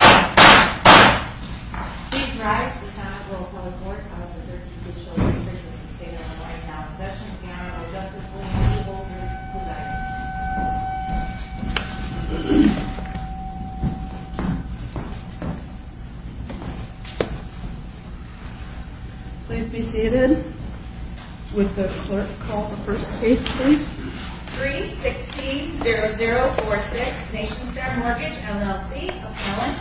Please rise, this time we'll call the court. I was a 32-year-old Christian who stayed in the White House. Session in honor of Justice William J. Bolton. Please be seated. 316-0046 Nationstar Mortgage LLC Appellant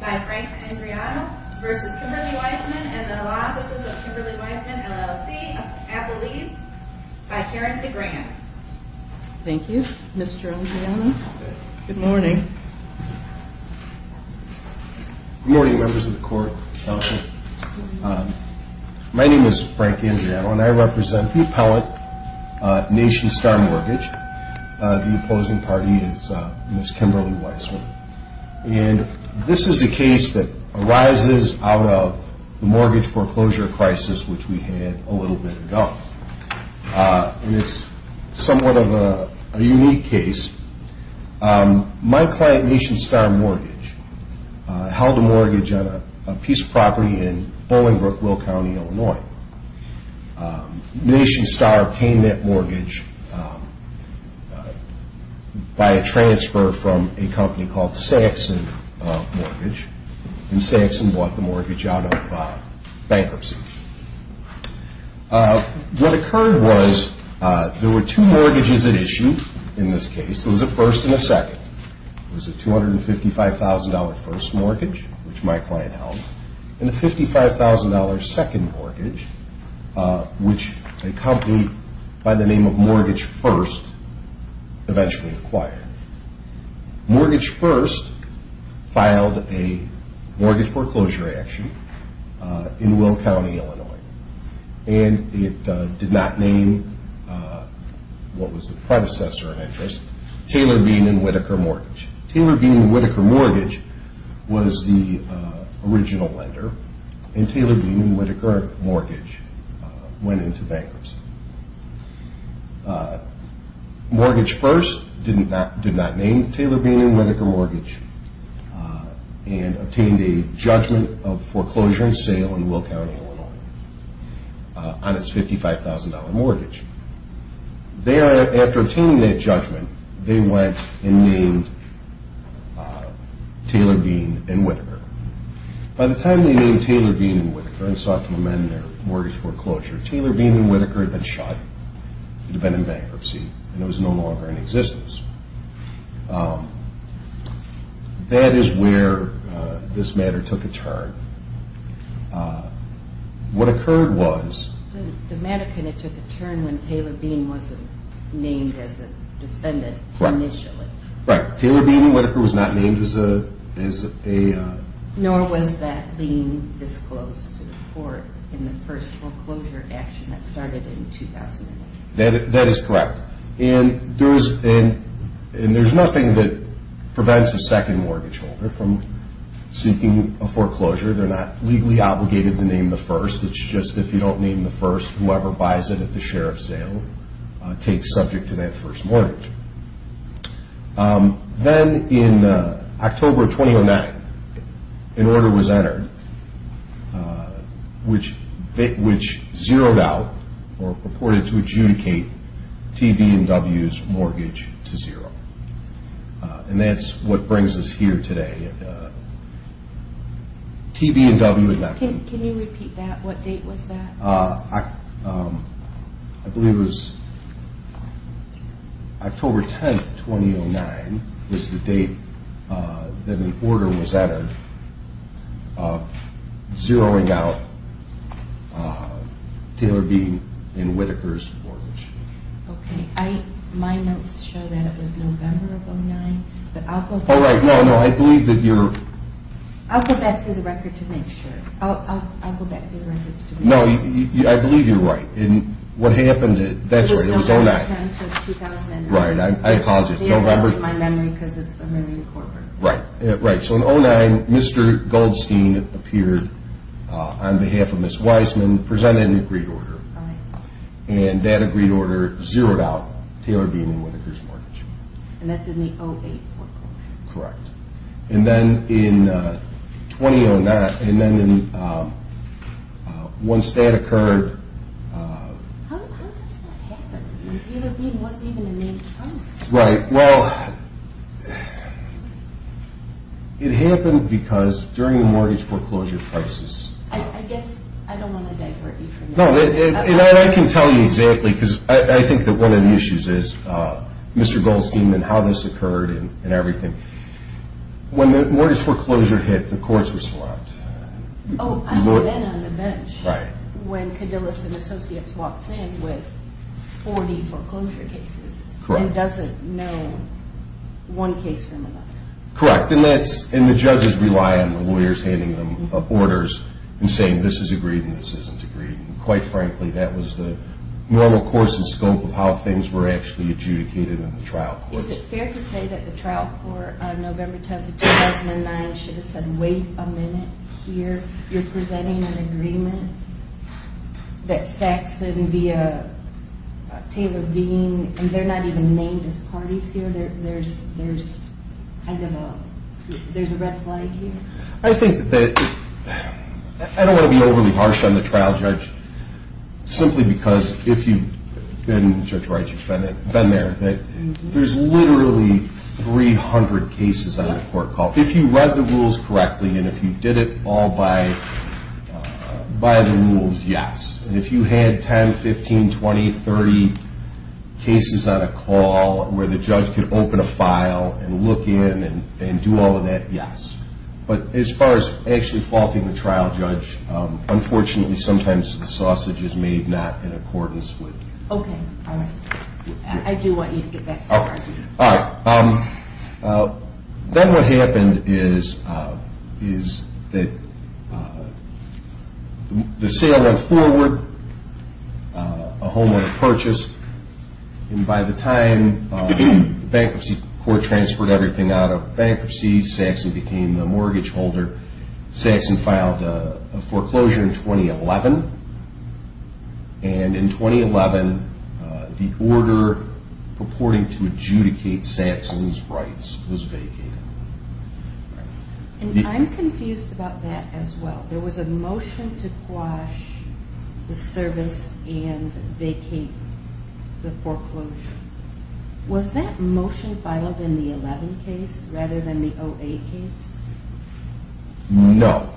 by Frank Andriano v. Kimberly Weissman and the Law Offices of Kimberly Weissman LLC Appellees by Karen DeGrant. Thank you. Mr. Andriano, good morning. Good morning members of the court, counsel. My name is Frank Andriano and I represent the appellant, Nationstar Mortgage. The opposing party is Ms. Kimberly Weissman. And this is a case that arises out of the mortgage foreclosure crisis which we had a little bit ago. And it's somewhat of a unique case. My client, Nationstar Mortgage, held a mortgage on a piece of property in Bolingbrook, Will County, Illinois. Nationstar obtained that mortgage by a transfer from a company called Saxon Mortgage. And Saxon bought the mortgage out of bankruptcy. What occurred was there were two mortgages at issue in this case. It was a first and a second. It was a $255,000 first mortgage, which my client held, and a $55,000 second mortgage, which a company by the name of Mortgage First eventually acquired. Mortgage First filed a mortgage foreclosure action in Will County, Illinois. And it did not name what was the predecessor of interest, Taylor Bean and Whitaker Mortgage. Taylor Bean and Whitaker Mortgage was the original lender, and Taylor Bean and Whitaker Mortgage went into bankruptcy. Mortgage First did not name Taylor Bean and Whitaker Mortgage and obtained a judgment of foreclosure and sale in Will County, Illinois on its $55,000 mortgage. Thereafter obtaining that judgment, they went and named Taylor Bean and Whitaker. By the time they named Taylor Bean and Whitaker and sought to amend their mortgage foreclosure, Taylor Bean and Whitaker had been shot. It had been in bankruptcy, and it was no longer in existence. That is where this matter took a turn. What occurred was... The matter took a turn when Taylor Bean wasn't named as a defendant initially. Right. Taylor Bean and Whitaker was not named as a... That is correct. And there's nothing that prevents a second mortgage holder from seeking a foreclosure. They're not legally obligated to name the first. It's just if you don't name the first, whoever buys it at the share of sale takes subject to that first mortgage. Then in October 2009, an order was entered which zeroed out or purported to adjudicate T.B. and W.'s mortgage to zero. And that's what brings us here today. T.B. and W. had not been... Can you repeat that? What date was that? I believe it was October 10, 2009 was the date that an order was entered zeroing out Taylor Bean and Whitaker's mortgage. Okay. My notes show that it was November of 2009, but I'll go back... Oh, right. No, no. I believe that you're... I'll go back through the record to make sure. I'll go back through the records to make sure. No, I believe you're right. And what happened, that's right, it was 2009. It was November 10, 2009. Right. I paused it. Don't remember... See, I'm erasing my memory because it's a memory incorporated. Right. Right. So in 2009, Mr. Goldstein appeared on behalf of Ms. Wiseman, presented an agreed order. Right. And that agreed order zeroed out Taylor Bean and Whitaker's mortgage. And that's in the 2008 foreclosure. Correct. And then in 2009, and then once that occurred... How does that happen? Taylor Bean wasn't even a named company. Right. Well, it happened because during the mortgage foreclosure crisis... I guess I don't want to divert you from that. No, and I can tell you exactly because I think that one of the issues is Mr. Goldstein and how this occurred and everything, when the mortgage foreclosure hit, the courts were swamped. Oh, I was then on the bench... Right. ...when Cadillac and Associates walked in with 40 foreclosure cases... Correct. ...and doesn't know one case from another. Correct. And the judges rely on the lawyers handing them orders and saying, this is agreed and this isn't agreed. And quite frankly, that was the normal course and scope of how things were actually adjudicated in the trial courts. Is it fair to say that the trial court on November 10, 2009 should have said, wait a minute here. You're presenting an agreement that Sachsen via Taylor Bean, and they're not even named as parties here. There's kind of a, there's a red flag here. I think that, I don't want to be overly harsh on the trial judge, simply because if you've been, been there, there's literally 300 cases on the court call. If you read the rules correctly and if you did it all by the rules, yes. And if you had 10, 15, 20, 30 cases on a call where the judge could open a file and look in and do all of that, yes. But as far as actually faulting the trial judge, unfortunately sometimes the sausage is made not in accordance with... Okay. All right. I do want you to get back to work. All right. Then what happened is that the sale went forward, a homeowner purchased. And by the time the bankruptcy court transferred everything out of bankruptcy, Sachsen became the mortgage holder. Sachsen filed a foreclosure in 2011. And in 2011, the order purporting to adjudicate Sachsen's rights was vacated. And I'm confused about that as well. There was a motion to quash the service and vacate the foreclosure. Was that motion filed in the 11 case rather than the 08 case? No.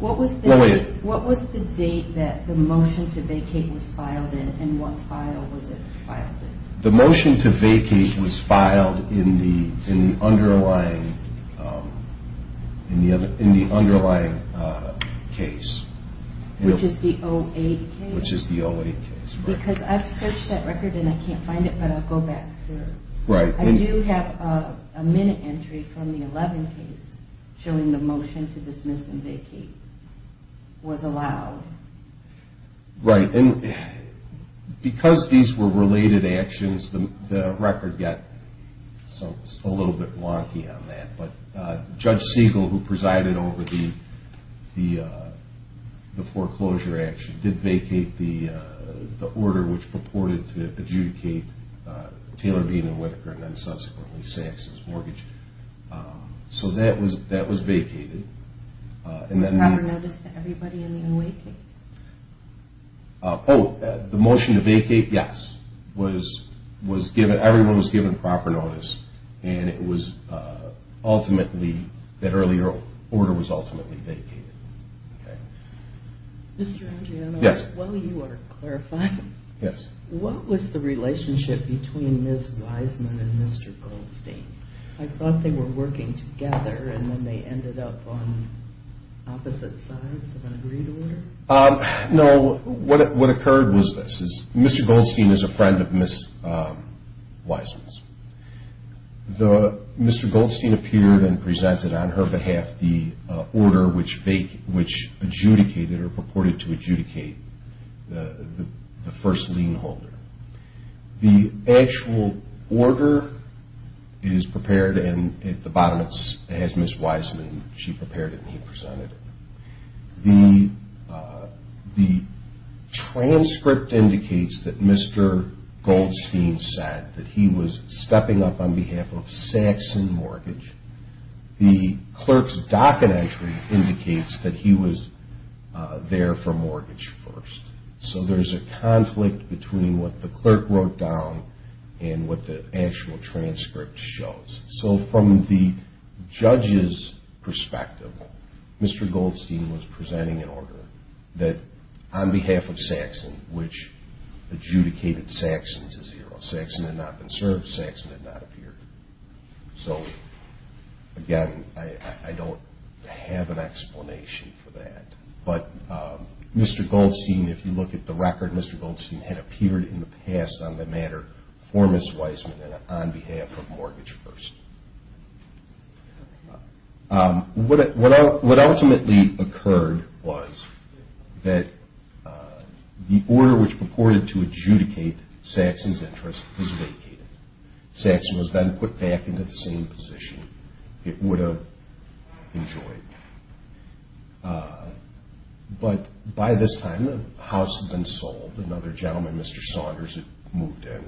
What was the date that the motion to vacate was filed in and what file was it filed in? The motion to vacate was filed in the underlying case. Which is the 08 case? Which is the 08 case, right. Because I've searched that record and I can't find it, but I'll go back through. I do have a minute entry from the 11 case showing the motion to dismiss and vacate was allowed. Right. And because these were related actions, the record got a little bit wonky on that. But Judge Siegel, who presided over the foreclosure action, did vacate the order which purported to adjudicate Taylor Bean and Whitaker and then subsequently Sachsen's mortgage. So that was vacated. Was there ever notice that everybody in the 08 case? Oh, the motion to vacate, yes. Everyone was given proper notice. And it was ultimately, that earlier order was ultimately vacated. Okay. Mr. Andriano. Yes. While you are clarifying. Yes. What was the relationship between Ms. Wiseman and Mr. Goldstein? I thought they were working together and then they ended up on opposite sides of an agreed order. No, what occurred was this. Mr. Goldstein is a friend of Ms. Wiseman's. Mr. Goldstein appeared and presented on her behalf the order which adjudicated or purported to adjudicate the first lien holder. The actual order is prepared and at the bottom it has Ms. Wiseman. She prepared it and he presented it. The transcript indicates that Mr. Goldstein said that he was stepping up on behalf of Sachsen Mortgage. The clerk's docket entry indicates that he was there for mortgage first. So there is a conflict between what the clerk wrote down and what the actual transcript shows. So from the judge's perspective, Mr. Goldstein was presenting an order that on behalf of Sachsen, which adjudicated Sachsen to zero. Sachsen had not been served. Sachsen had not appeared. So again, I don't have an explanation for that, but Mr. Goldstein, if you look at the record, Mr. Goldstein had appeared in the past on the matter for Ms. Wiseman and on behalf of mortgage first. What ultimately occurred was that the order which purported to adjudicate Sachsen's interest was vacated. Sachsen was then put back into the same position it would have enjoyed. But by this time, the house had been sold. Another gentleman, Mr. Saunders, had moved in.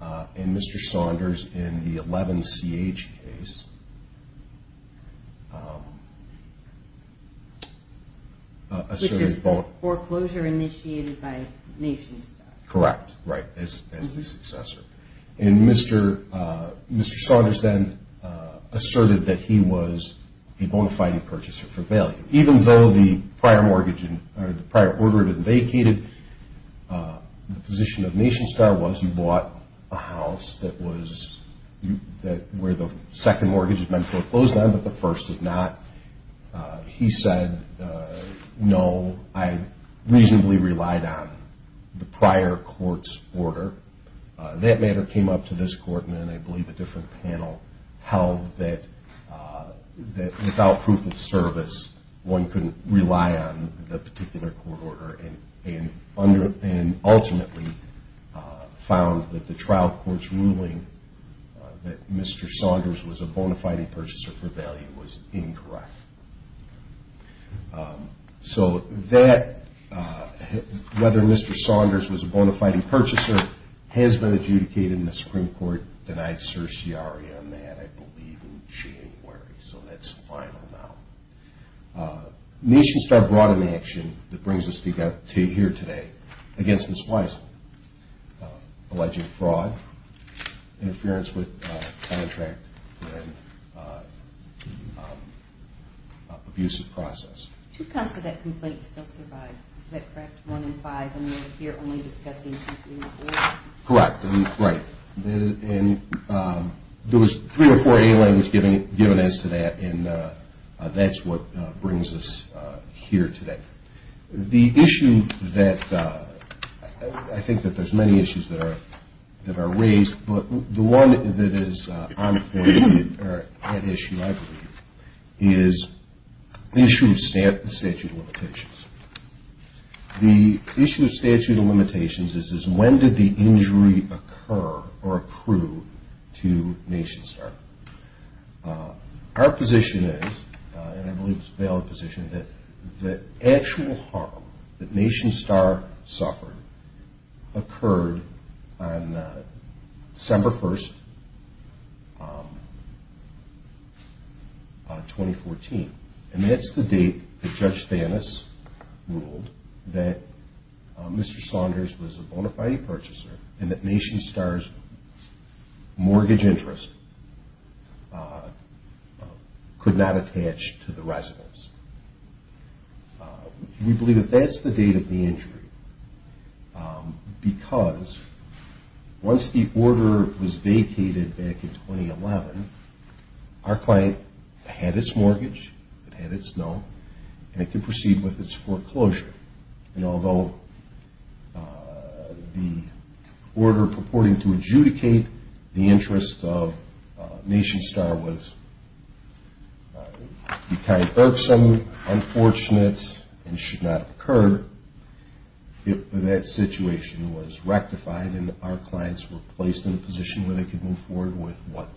And Mr. Saunders, in the 11CH case, asserted a bone. Which is foreclosure initiated by nation-state. Correct, right, as the successor. And Mr. Saunders then asserted that he was a bona fide purchaser for value. Even though the prior mortgage, or the prior order had been vacated, the position of nation-state was you bought a house that was, where the second mortgage is meant to foreclose on but the first is not. He said, no, I reasonably relied on the prior court's order. That matter came up to this court and then I believe a different panel held that without proof of service, one couldn't rely on the particular court order. And ultimately found that the trial court's ruling that Mr. Saunders was a bona fide purchaser for value was incorrect. So that, whether Mr. Saunders was a bona fide purchaser, has been adjudicated and the Supreme Court denied certiorari on that, I believe, in January. So that's final now. Nation-state brought an action that brings us to here today against Ms. Weissel. Alleging fraud, interference with contract, and the abusive process. Two counts of that complaint still survive. Is that correct? One in five and we're here only discussing two, three, and four? Correct. Right. And there was three or four aliens given as to that and that's what brings us here today. The issue that, I think that there's many issues that are raised, but the one that is an issue I believe is the issue of statute of limitations. The issue of statute of limitations is when did the injury occur or accrue to Nation-Star? Our position is, and I believe it's a valid position, that the actual harm that Nation-Star suffered occurred on December 1st, 2014. And that's the date that Judge Thanos ruled that Mr. Saunders was a bona fide purchaser and that Nation-Star's mortgage interest could not attach to the residence. We believe that that's the date of the injury because once the order was vacated back in 2011, our client had its mortgage, it had its note, and it could proceed with its foreclosure. And although the order purporting to adjudicate the interest of Nation-Star was kind of irksome, unfortunate, and should not have occurred, that situation was rectified and our clients were placed in a position where they could move forward with what?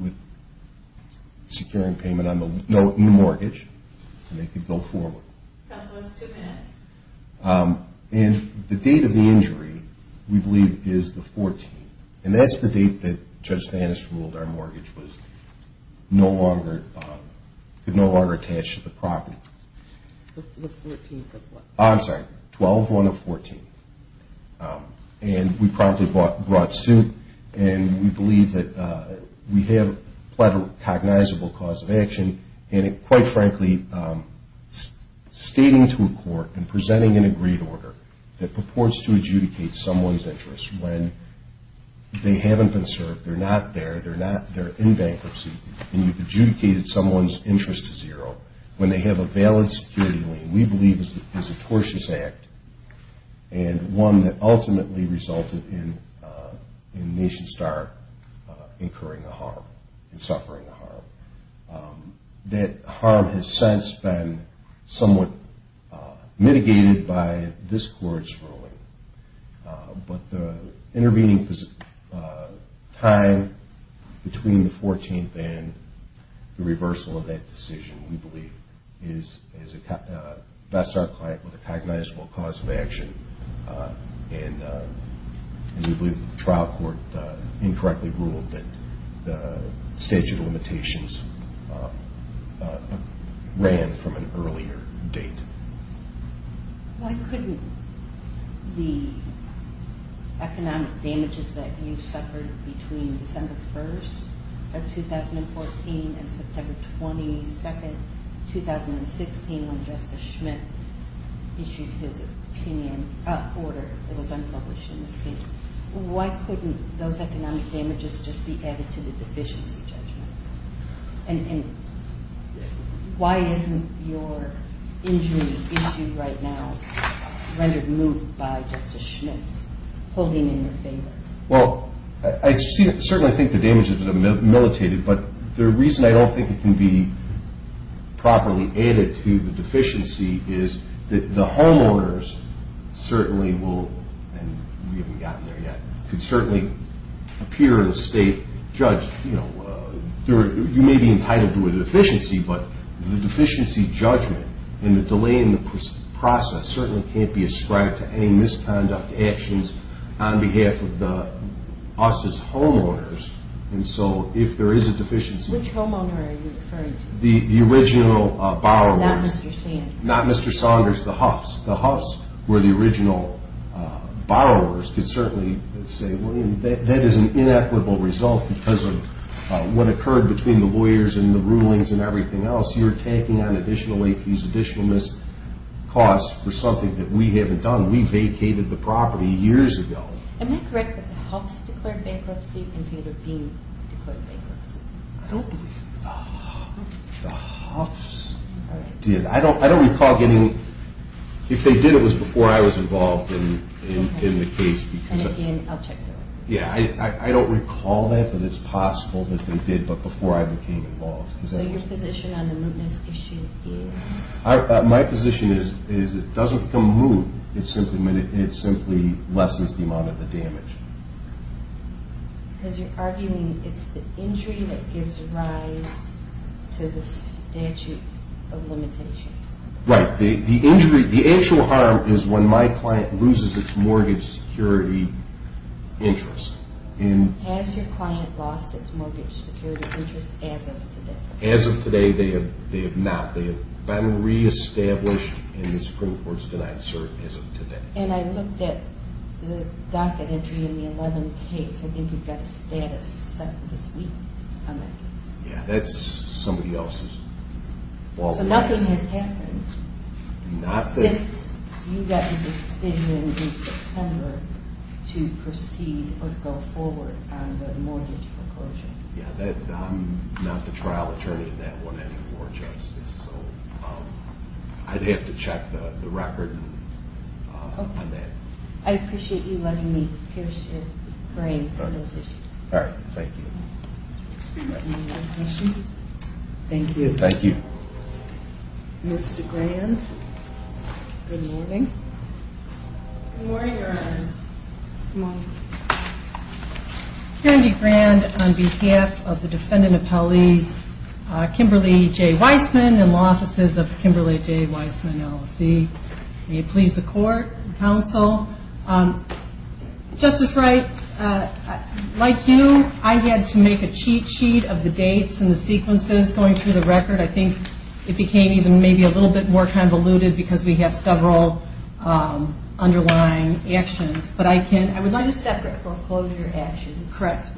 With securing payment in the mortgage and they could go forward. Counsel, it's two minutes. And the date of the injury we believe is the 14th. And that's the date that Judge Thanos ruled our mortgage could no longer attach to the property. The 14th of what? I'm sorry, 12-1-14. And we promptly brought suit and we believe that we have quite a cognizable cause of action. And quite frankly, stating to a court and presenting an agreed order that purports to adjudicate someone's interest when they haven't been served, they're not there, they're in bankruptcy, and you've adjudicated someone's interest to zero, when they have a valid security lien, we believe is a tortious act and one that ultimately resulted in Nation-Star incurring a harm and suffering a harm. That harm has since been somewhat mitigated by this court's ruling, but the intervening time between the 14th and the reversal of that decision, we believe, bests our client with a cognizable cause of action. And we believe that the trial court incorrectly ruled that the statute of limitations ran from an earlier date. Why couldn't the economic damages that you suffered between December 1st of 2014 and September 22nd, 2016, when Justice Schmitt issued his opinion, order that was unpublished in this case, why couldn't those economic damages just be added to the deficiency judgment? And why isn't your injury issue right now rendered moot by Justice Schmitt's holding in your favor? Well, I certainly think the damages have been militated, but the reason I don't think it can be properly added to the deficiency is that the homeowners certainly will, and we haven't gotten there yet, could certainly appear in a state judge. You know, you may be entitled to a deficiency, but the deficiency judgment and the delay in the process certainly can't be ascribed to any misconduct actions on behalf of us as homeowners. And so if there is a deficiency... Which homeowner are you referring to? The original borrowers. Not Mr. Sanders. Not Mr. Saunders, the Huffs. The Huffs were the original borrowers could certainly say, well, that is an inequitable result because of what occurred between the lawyers and the rulings and everything else. You're taking on additional, these additional costs for something that we haven't done. We vacated the property years ago. Am I correct that the Huffs declared bankruptcy instead of being declared bankruptcy? I don't believe the Huffs did. I don't recall getting... If they did, it was before I was involved in the case. And again, I'll check it over. Yeah, I don't recall that, but it's possible that they did, but before I became involved. So your position on the mootness issue is? My position is it doesn't become moot. It simply lessens the amount of the damage. Because you're arguing it's the injury that gives rise to the statute of limitations. Right. The injury, the actual harm is when my client loses its mortgage security interest. Has your client lost its mortgage security interest as of today? As of today, they have not. They have been reestablished, and the Supreme Court has denied cert as of today. And I looked at the docket entry in the 11 case. I think you've got a status set this week on that case. Yeah, that's somebody else's. So nothing has happened since you got the decision in September to proceed or go forward on the mortgage foreclosure. Yeah, I'm not the trial attorney in that one anymore, Justice. So I'd have to check the record on that. I appreciate you letting me pierce your brain for this issue. All right, thank you. Any other questions? Thank you. Thank you. Ms. DeGrand, good morning. Good morning, Your Honors. Good morning. Karen DeGrand on behalf of the defendant appellees, Kimberly J. Weissman and law offices of Kimberly J. Weissman LLC. May it please the court and counsel. Justice Wright, like you, I had to make a cheat sheet of the dates and the sequences going through the record. I think it became even maybe a little bit more convoluted because we have several underlying actions. Two separate foreclosure actions. Correct.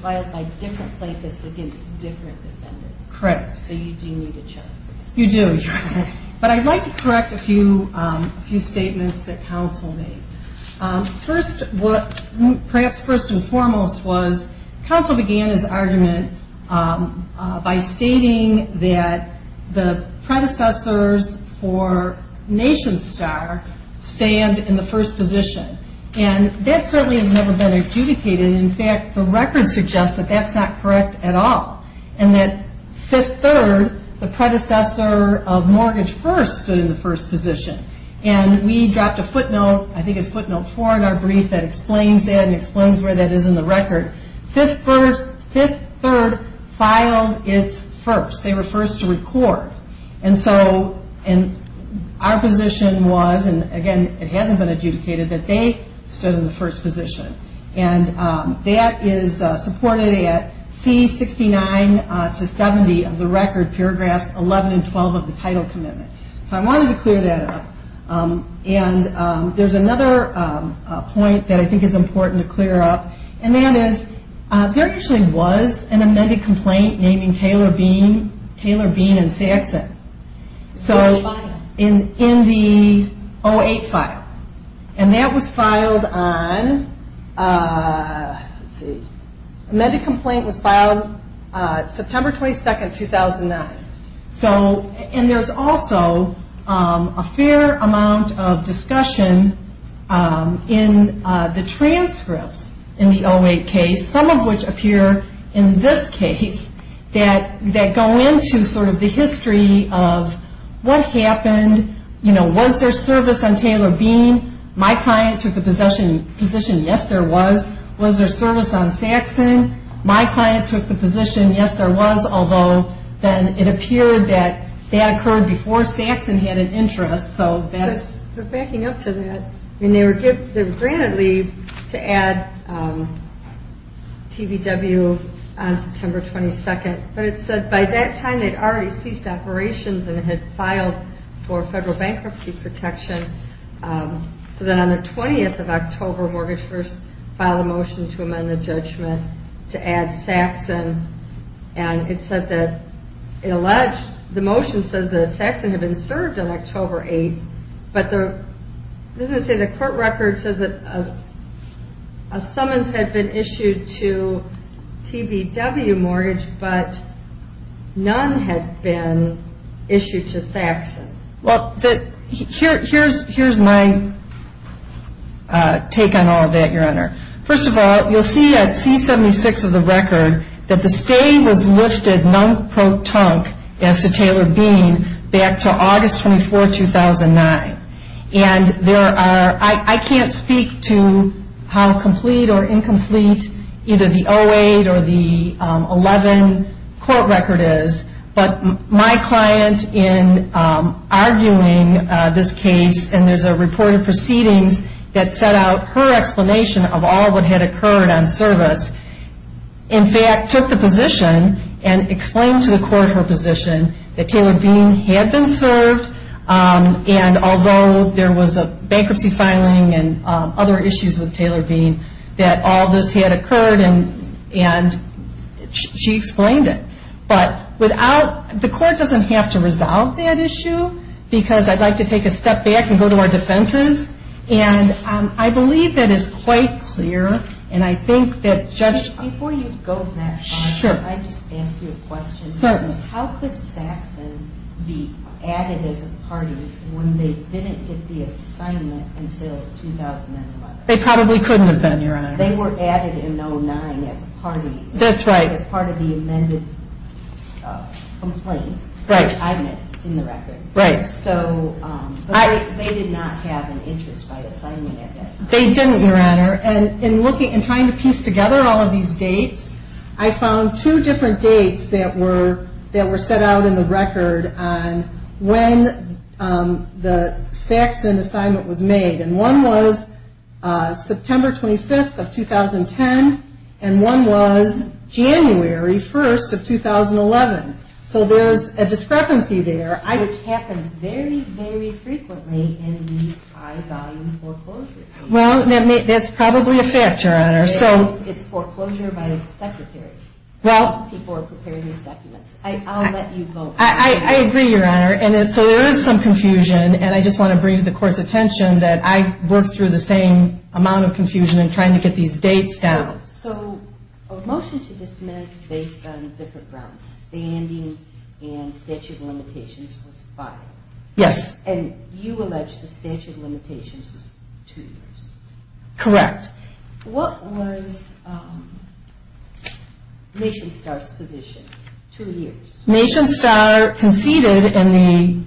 Filed by different plaintiffs against different defendants. Correct. So you do need to check. You do. But I'd like to correct a few statements that counsel made. Perhaps first and foremost was counsel began his argument by stating that the predecessors for Nation Star stand in the first position. And that certainly has never been adjudicated. In fact, the record suggests that that's not correct at all. And that Fifth Third, the predecessor of Mortgage First, stood in the first position. And we dropped a footnote, I think it's footnote four in our brief that explains that and explains where that is in the record. Fifth Third filed its first. They were first to record. And so our position was, and again it hasn't been adjudicated, that they stood in the first position. And that is supported at C69 to 70 of the record, paragraphs 11 and 12 of the title commitment. So I wanted to clear that up. And there's another point that I think is important to clear up. And that is there actually was an amended complaint naming Taylor, Bean, Taylor, Bean, and Saxon. So in the 08 file. And that was filed on, let's see, amended complaint was filed September 22, 2009. And there's also a fair amount of discussion in the transcripts in the 08 case. Some of which appear in this case that go into sort of the history of what happened. You know, was there service on Taylor, Bean? My client took the position yes there was. Was there service on Saxon? My client took the position yes there was. Although then it appeared that that occurred before Saxon had an interest. So that's... They're backing up to that. I mean, they were granted leave to add TVW on September 22. But it said by that time they'd already ceased operations and had filed for federal bankruptcy protection. So then on the 20th of October, Mortgage First filed a motion to amend the judgment to add Saxon. And it said that it alleged the motion says that Saxon had been served on October 8. But it doesn't say the court record says that a summons had been issued to TVW mortgage. But none had been issued to Saxon. Well, here's my take on all of that, Your Honor. First of all, you'll see at C-76 of the record that the stay was lifted non-pro-tunk as to Taylor Bean back to August 24, 2009. And there are... I can't speak to how complete or incomplete either the 08 or the 11 court record is. But my client, in arguing this case, and there's a report of proceedings that set out her explanation of all that had occurred on service, in fact took the position and explained to the court her position that Taylor Bean had been served. And although there was a bankruptcy filing and other issues with Taylor Bean, that all this had occurred and she explained it. But without... The court doesn't have to resolve that issue because I'd like to take a step back and go to our defenses. And I believe that is quite clear. And I think that Judge... Before you go that far, I'd just ask you a question. Certainly. How could Saxon be added as a party when they didn't get the assignment until 2011? They probably couldn't have been, Your Honor. They were added in 09 as a party. That's right. As part of the amended complaint. Right. I admit in the record. Right. So they did not have an interest by assigning it. They didn't, Your Honor. And in looking and trying to piece together all of these dates, I found two different dates that were set out in the record on when the Saxon assignment was made. And one was September 25th of 2010. And one was January 1st of 2011. So there's a discrepancy there. Which happens very, very frequently in these high volume foreclosures. Well, that's probably a fact, Your Honor. It's foreclosure by a secretary. Well... People are preparing these documents. I'll let you go. I agree, Your Honor. So there is some confusion. And I just want to bring to the Court's attention that I worked through the same amount of confusion in trying to get these dates down. So a motion to dismiss based on different grounds, standing and statute of limitations, was filed. Yes. And you allege the statute of limitations was two years. Correct. What was Nation Star's position? Two years. Nation Star conceded in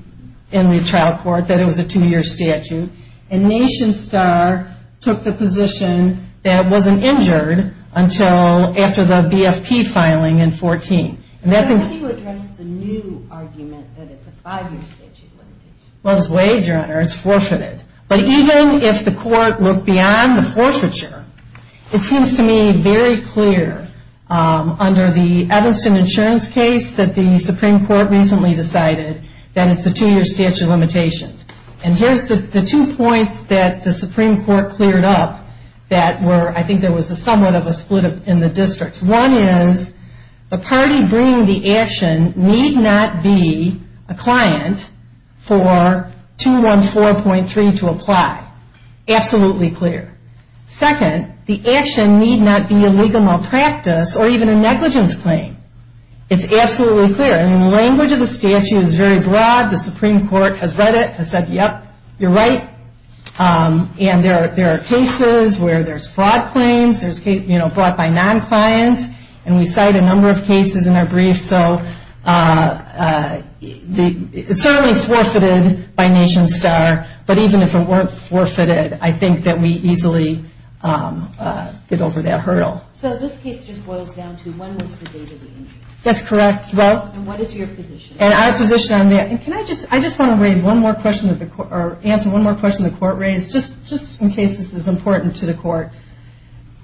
the trial court that it was a two-year statute. And Nation Star took the position that it wasn't injured until after the BFP filing in 2014. How do you address the new argument that it's a five-year statute of limitations? Well, it's waived, Your Honor. It's forfeited. But even if the Court looked beyond the forfeiture, it seems to me very clear under the Evanston insurance case that the Supreme Court recently decided that it's a two-year statute of limitations. And here's the two points that the Supreme Court cleared up that were, I think there was somewhat of a split in the districts. One is the party bringing the action need not be a client for 214.3 to apply. Absolutely clear. Second, the action need not be a legal malpractice or even a negligence claim. It's absolutely clear. And the language of the statute is very broad. The Supreme Court has read it, has said, yep, you're right. And there are cases where there's fraud claims, there's cases brought by non-clients. And we cite a number of cases in our briefs. So it's certainly forfeited by Nation Star. But even if it weren't forfeited, I think that we easily get over that hurdle. So this case just boils down to when was the date of the injury? That's correct. And what is your position on that? I just want to answer one more question the Court raised, just in case this is important to the Court.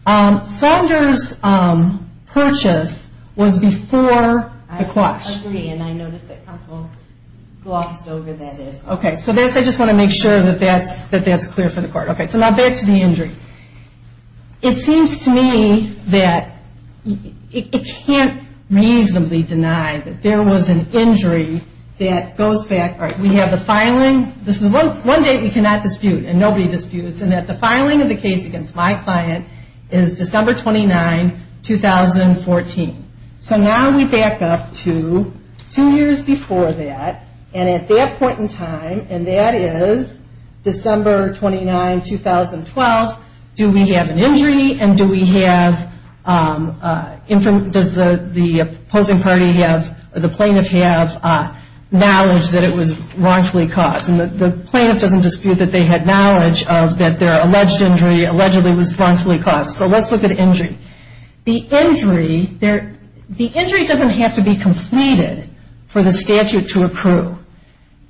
Saunders' purchase was before the quash. I agree. And I noticed that counsel glossed over that. Okay. So I just want to make sure that that's clear for the Court. Okay. So now back to the injury. It seems to me that it can't reasonably deny that there was an injury that goes back. All right. We have the filing. This is one date we cannot dispute, and nobody disputes, and that the filing of the case against my client is December 29, 2014. So now we back up to two years before that. And at that point in time, and that is December 29, 2012, do we have an injury and does the opposing party or the plaintiff have knowledge that it was wrongfully caused? And the plaintiff doesn't dispute that they had knowledge that their alleged injury allegedly was wrongfully caused. So let's look at injury. The injury doesn't have to be completed for the statute to accrue.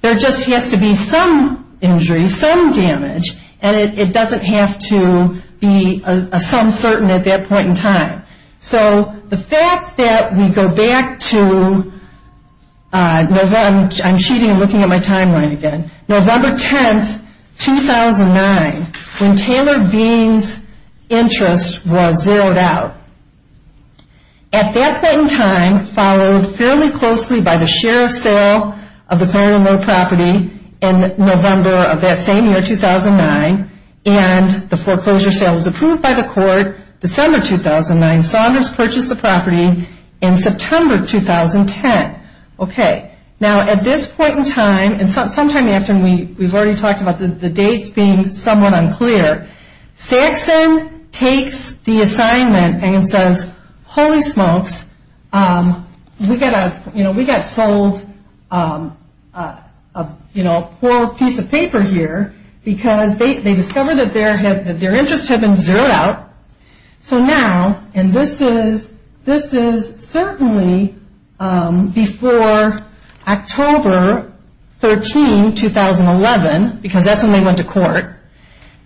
There just has to be some injury, some damage, and it doesn't have to be a some certain at that point in time. So the fact that we go back to November 10, 2009, when Taylor Bean's interest was zeroed out. At that point in time, followed fairly closely by the sheriff's sale of the Colonel Moore property in November of that same year, 2009, and the foreclosure sale was approved by the court December 2009, Saunders purchased the property in September 2010. Now at this point in time, and sometime after, and we've already talked about the dates being somewhat unclear, Saxon takes the assignment and says, Holy smokes, we got sold a poor piece of paper here, because they discovered that their interest had been zeroed out. So now, and this is certainly before October 13, 2011, because that's when they went to court,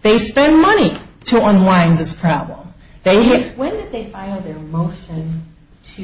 they spend money to unwind this problem. When did they file their motion to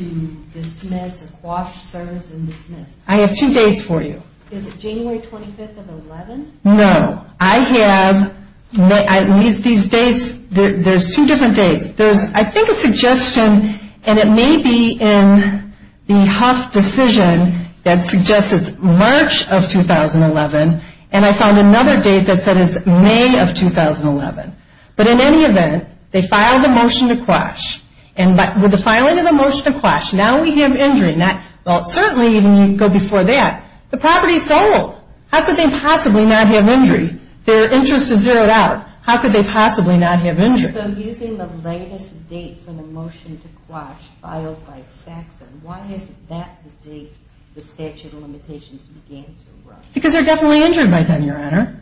dismiss or quash service and dismiss? I have two dates for you. Is it January 25th of 2011? No. I have, at least these dates, there's two different dates. There's, I think, a suggestion, and it may be in the Huff decision, that suggests it's March of 2011, and I found another date that said it's May of 2011. But in any event, they filed a motion to quash, and with the filing of the motion to quash, now we have injury. Well, certainly, even you go before that. The property is sold. How could they possibly not have injury? Their interest had zeroed out. How could they possibly not have injury? So using the latest date for the motion to quash filed by Saxon, why is that the date the statute of limitations began to run? Because they're definitely injured by then, Your Honor.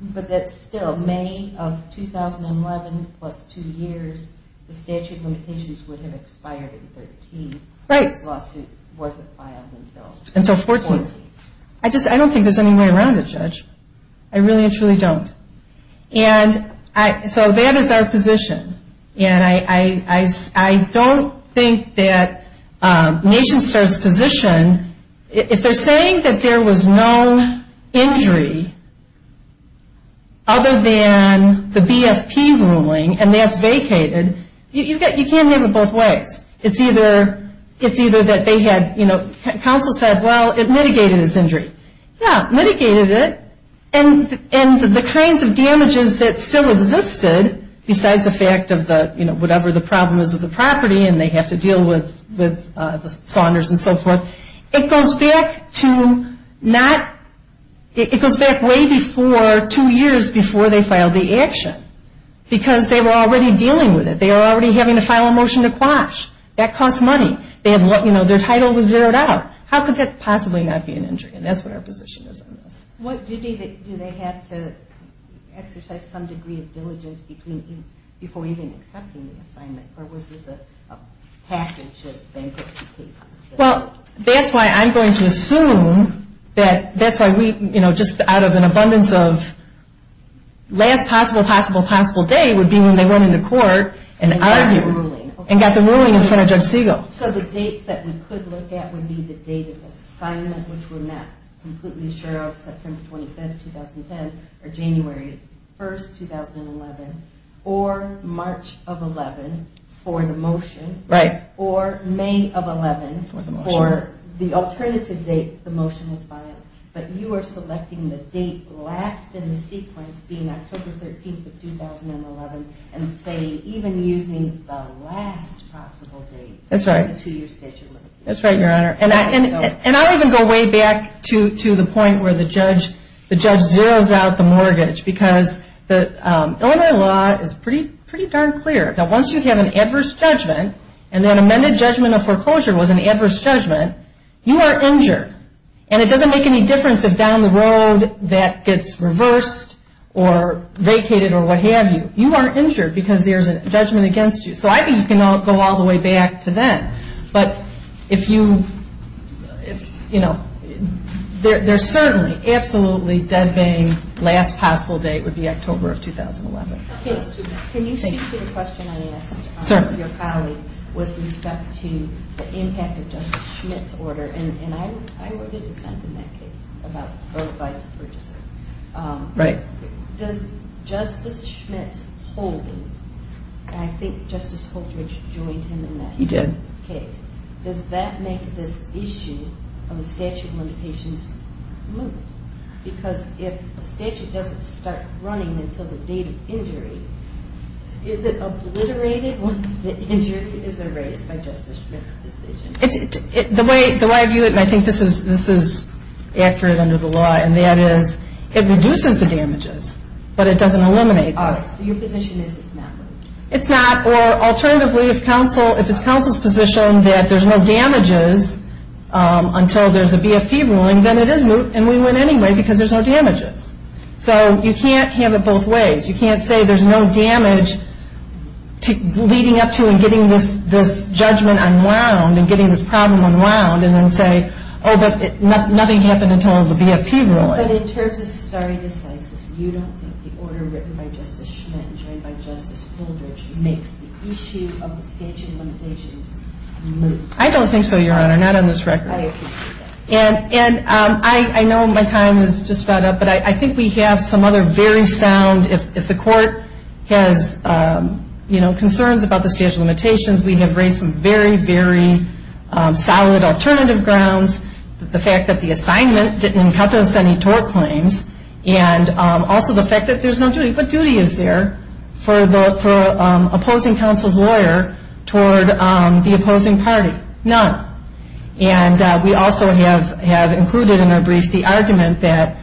But that's still May of 2011 plus two years, the statute of limitations would have expired in 13. Right. This lawsuit wasn't filed until 14. I don't think there's any way around it, Judge. I really and truly don't. And so that is our position, and I don't think that NationStar's position, if they're saying that there was no injury other than the BFP ruling, and that's vacated, you can't have it both ways. It's either that they had, you know, counsel said, well, it mitigated his injury. Yeah, mitigated it, and the kinds of damages that still existed besides the fact of the, you know, whatever the problem is with the property and they have to deal with the Saunders and so forth, it goes back to not, it goes back way before two years before they filed the action because they were already dealing with it. They were already having to file a motion to quash. That costs money. You know, their title was zeroed out. How could that possibly not be an injury, and that's what our position is on this. Do they have to exercise some degree of diligence before even accepting the assignment, or was this a package of bankruptcy cases? Well, that's why I'm going to assume that that's why we, you know, just out of an abundance of last possible, possible, possible day would be when they went into court and argued and got the ruling in front of Judge Segal. So the dates that we could look at would be the date of assignment, which we're not completely sure of, September 25th, 2010, or January 1st, 2011, or March of 11th for the motion, or May of 11th for the alternative date the motion was filed, but you are selecting the date last in the sequence being October 13th of 2011, and say even using the last possible date. That's right. That's right, Your Honor. And I'll even go way back to the point where the judge zeroes out the mortgage because the Illinois law is pretty darn clear. Now, once you have an adverse judgment, and that amended judgment of foreclosure was an adverse judgment, you are injured, and it doesn't make any difference if down the road that gets reversed or vacated or what have you. You are injured because there's a judgment against you. So I think you can go all the way back to then. But if you, you know, there's certainly absolutely dead vain last possible date would be October of 2011. Okay. Can you speak to the question I asked? Sir. Your colleague with respect to the impact of Justice Schmitt's order, and I wrote a dissent in that case about a vote by the purchaser. Right. Does Justice Schmitt's holding, and I think Justice Holtridge joined him in that case. He did. Does that make this issue of the statute of limitations move? Because if a statute doesn't start running until the date of injury, is it obliterated once the injury is erased by Justice Schmitt's decision? The way I view it, and I think this is accurate under the law, and that is it reduces the damages, but it doesn't eliminate them. So your position is it's not? It's not. Or alternatively, if it's counsel's position that there's no damages until there's a BFP ruling, then it is moved and we win anyway because there's no damages. So you can't have it both ways. You can't say there's no damage leading up to and getting this judgment unwound and getting this problem unwound and then say, oh, but nothing happened until the BFP ruling. But in terms of stare decisis, you don't think the order written by Justice Schmitt and joined by Justice Holtridge makes the issue of the statute of limitations move? I don't think so, Your Honor, not on this record. I agree with that. And I know my time is just about up, but I think we have some other very sound, if the court has concerns about the statute of limitations, we have raised some very, very solid alternative grounds, the fact that the assignment didn't encompass any tort claims, and also the fact that there's no duty. What duty is there for opposing counsel's lawyer toward the opposing party? None. And we also have included in our brief the argument that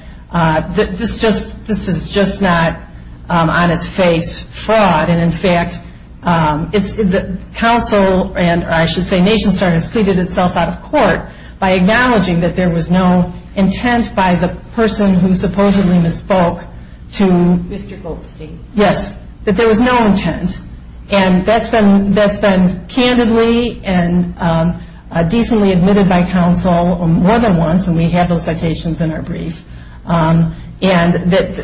this is just not on its face fraud, and, in fact, counsel and I should say NationStar has pleaded itself out of court by acknowledging that there was no intent by the person who supposedly misspoke to Mr. Goldstein. Yes, that there was no intent. And that's been candidly and decently admitted by counsel more than once, and we have those citations in our brief. And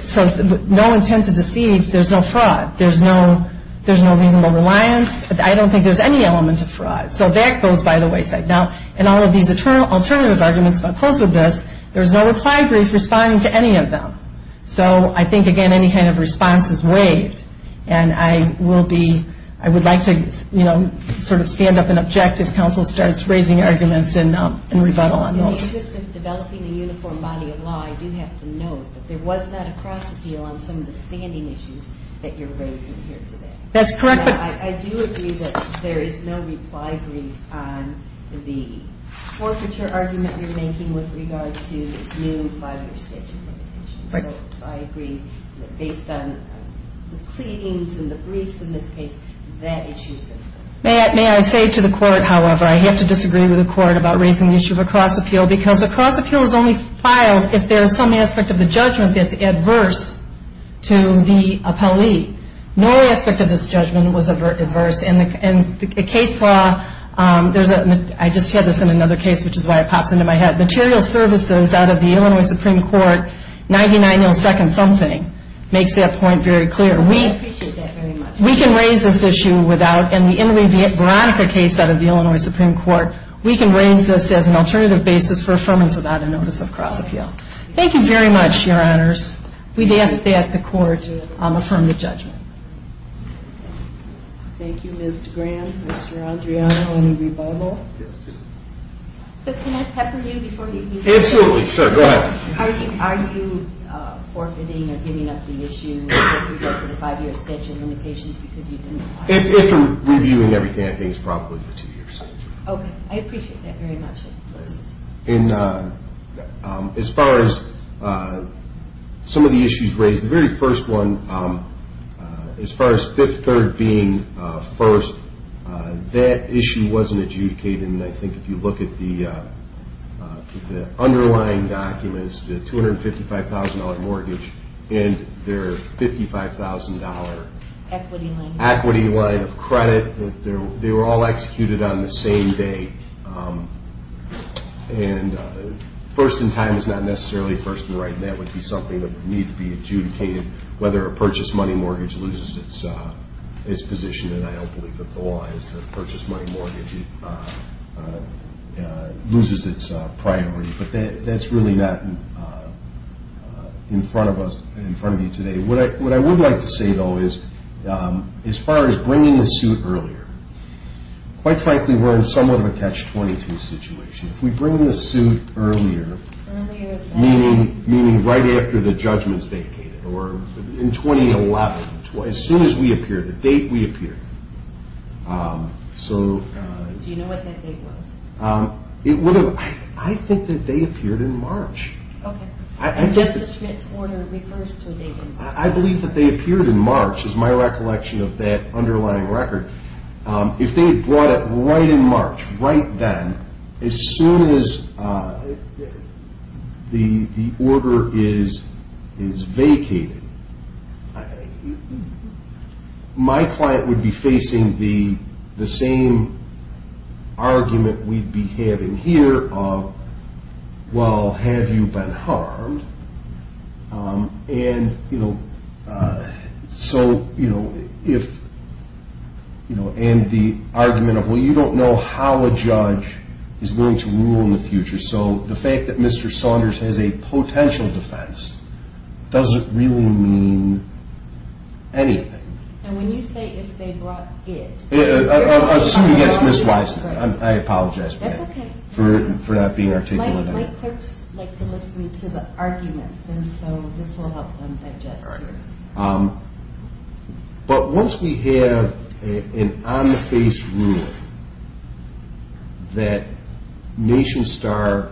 so no intent to deceive, there's no fraud. There's no reasonable reliance. I don't think there's any element of fraud. So that goes by the wayside. Now, in all of these alternative arguments, if I close with this, there's no reply brief responding to any of them. So I think, again, any kind of response is waived, and I would like to sort of stand up and object if counsel starts raising arguments and rebuttal on those. In the interest of developing a uniform body of law, I do have to note that there was not a cross-appeal on some of the standing issues that you're raising here today. That's correct. I do agree that there is no reply brief on the forfeiture argument you're making with regard to this new five-year statute limitation. Right. So I agree that based on the pleadings and the briefs in this case, that issue's been raised. May I say to the Court, however, I have to disagree with the Court about raising the issue of a cross-appeal because a cross-appeal is only filed if there is some aspect of the judgment that's adverse to the appellee. No aspect of this judgment was adverse. In the case law, I just had this in another case, which is why it pops into my head, material services out of the Illinois Supreme Court, 99 millisecond something, makes that point very clear. I appreciate that very much. We can raise this issue without. In the Inmate Veronica case out of the Illinois Supreme Court, we can raise this as an alternative basis for affirmance without a notice of cross-appeal. Thank you very much, Your Honors. We'd ask that the Court affirm the judgment. Thank you, Ms. DeGran. Mr. Andriano, any rebuttal? Yes, please. So can I pepper you before you do? Absolutely. Sure. Go ahead. Are you forfeiting or giving up the issue with regard to the five-year statute limitations because you didn't apply? If you're reviewing everything, I think it's probably the two-year statute. Okay. I appreciate that very much. And as far as some of the issues raised, the very first one, as far as Fifth Third being first, that issue wasn't adjudicated, and I think if you look at the underlying documents, the $255,000 mortgage and their $55,000 equity line of credit, they were all executed on the same day. And first in time is not necessarily first in writing. That would be something that would need to be adjudicated, whether a purchased money mortgage loses its position, and I don't believe that the law is that a purchased money mortgage loses its priority. But that's really not in front of us and in front of you today. What I would like to say, though, is as far as bringing the suit earlier, quite frankly, we're in somewhat of a catch-22 situation. If we bring the suit earlier, meaning right after the judgment is vacated or in 2011, as soon as we appear, the date we appear. Do you know what that date was? I think that they appeared in March. Okay. And Justice Schmitt's order refers to a date in March. I believe that they appeared in March, is my recollection of that underlying record. If they had brought it right in March, right then, as soon as the order is vacated, my client would be facing the same argument we'd be having here of, well, have you been harmed? And the argument of, well, you don't know how a judge is willing to rule in the future. So the fact that Mr. Saunders has a potential defense doesn't really mean anything. And when you say, if they brought it. I'm assuming that's misplaced. I apologize for that. That's okay. For not being articulate enough. My clerks like to listen to the arguments, and so this will help them digest it. But once we have an on-the-face ruling that Nation Star,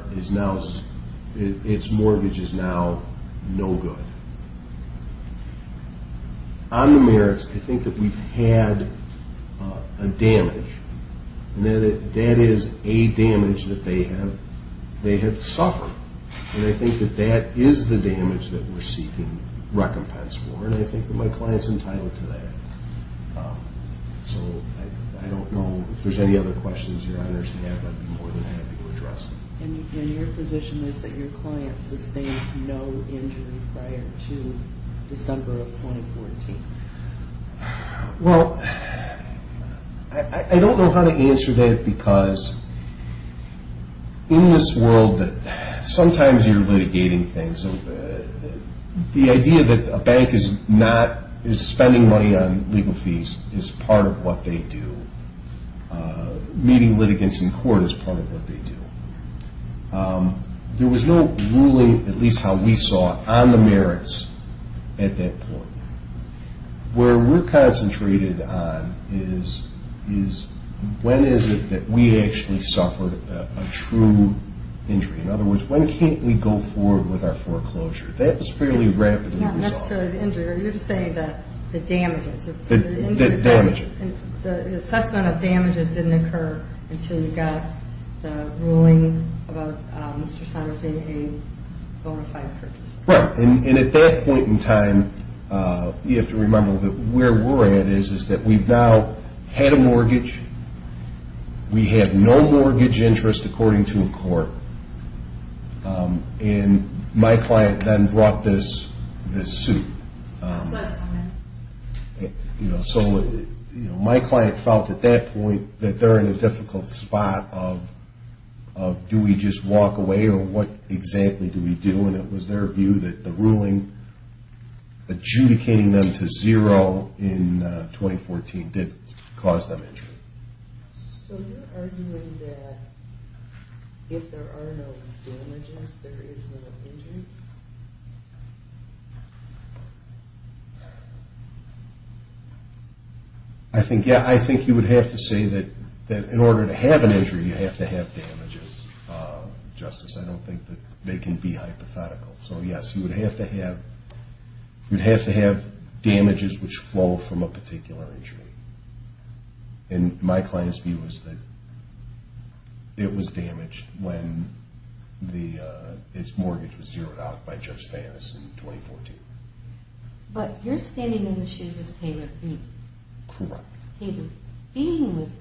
its mortgage is now no good, on the merits, I think that we've had a damage, and that is a damage that they have suffered. And I think that that is the damage that we're seeking recompense for. And I think that my client's entitled to that. So I don't know if there's any other questions your honors have. I'd be more than happy to address them. And your position is that your client sustained no injury prior to December of 2014. Well, I don't know how to answer that because in this world that sometimes you're litigating things. The idea that a bank is spending money on legal fees is part of what they do. Meeting litigants in court is part of what they do. There was no ruling, at least how we saw it, on the merits at that point. Where we're concentrated on is when is it that we actually suffered a true injury. In other words, when can't we go forward with our foreclosure? That was fairly rapidly resolved. Not necessarily the injury. You're just saying the damages. The damages. The assessment of damages didn't occur until you got the ruling about Mr. Sonders being a bona fide purchaser. Right. And at that point in time, you have to remember that where we're at is that we've now had a mortgage. We have no mortgage interest according to a court. And my client then brought this suit. His last comment. So my client felt at that point that they're in a difficult spot of do we just walk away or what exactly do we do? And it was their view that the ruling adjudicating them to zero in 2014 did cause them injury. So you're arguing that if there are no damages, there is no injury? I think you would have to say that in order to have an injury, you have to have damages, Justice. I don't think that they can be hypothetical. So, yes, you would have to have damages which flow from a particular injury. And my client's view is that it was damaged when its mortgage was zeroed out by Judge Stannis in 2014. But you're standing in the shoes of Taylor Feene. Correct. Taylor Feene was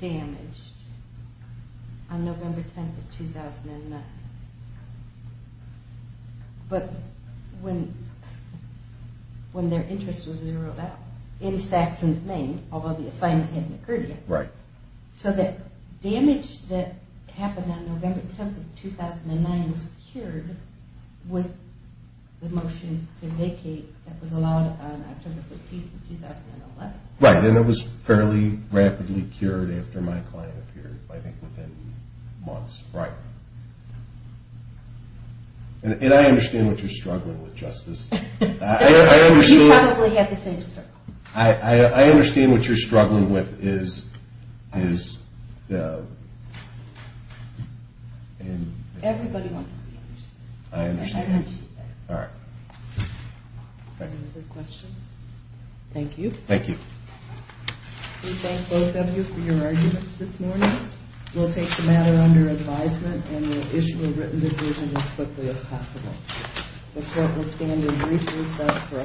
damaged on November 10, 2009. But when their interest was zeroed out in Saxon's name, although the assignment hadn't occurred yet. Right. So the damage that happened on November 10, 2009 was cured with the motion to vacate that was allowed on October 15, 2011. Right. And it was fairly rapidly cured after my client appeared, I think within months. Right. And I understand what you're struggling with, Justice. You probably have the same struggle. I understand what you're struggling with is... Everybody wants to be understood. I understand. All right. Any other questions? Thank you. Thank you. We thank both of you for your arguments this morning. We'll take the matter under advisement and we'll issue a written decision as quickly as possible. The court will stand in brief recess for a panel discussion. Thank you. Thank you. Court is adjourned.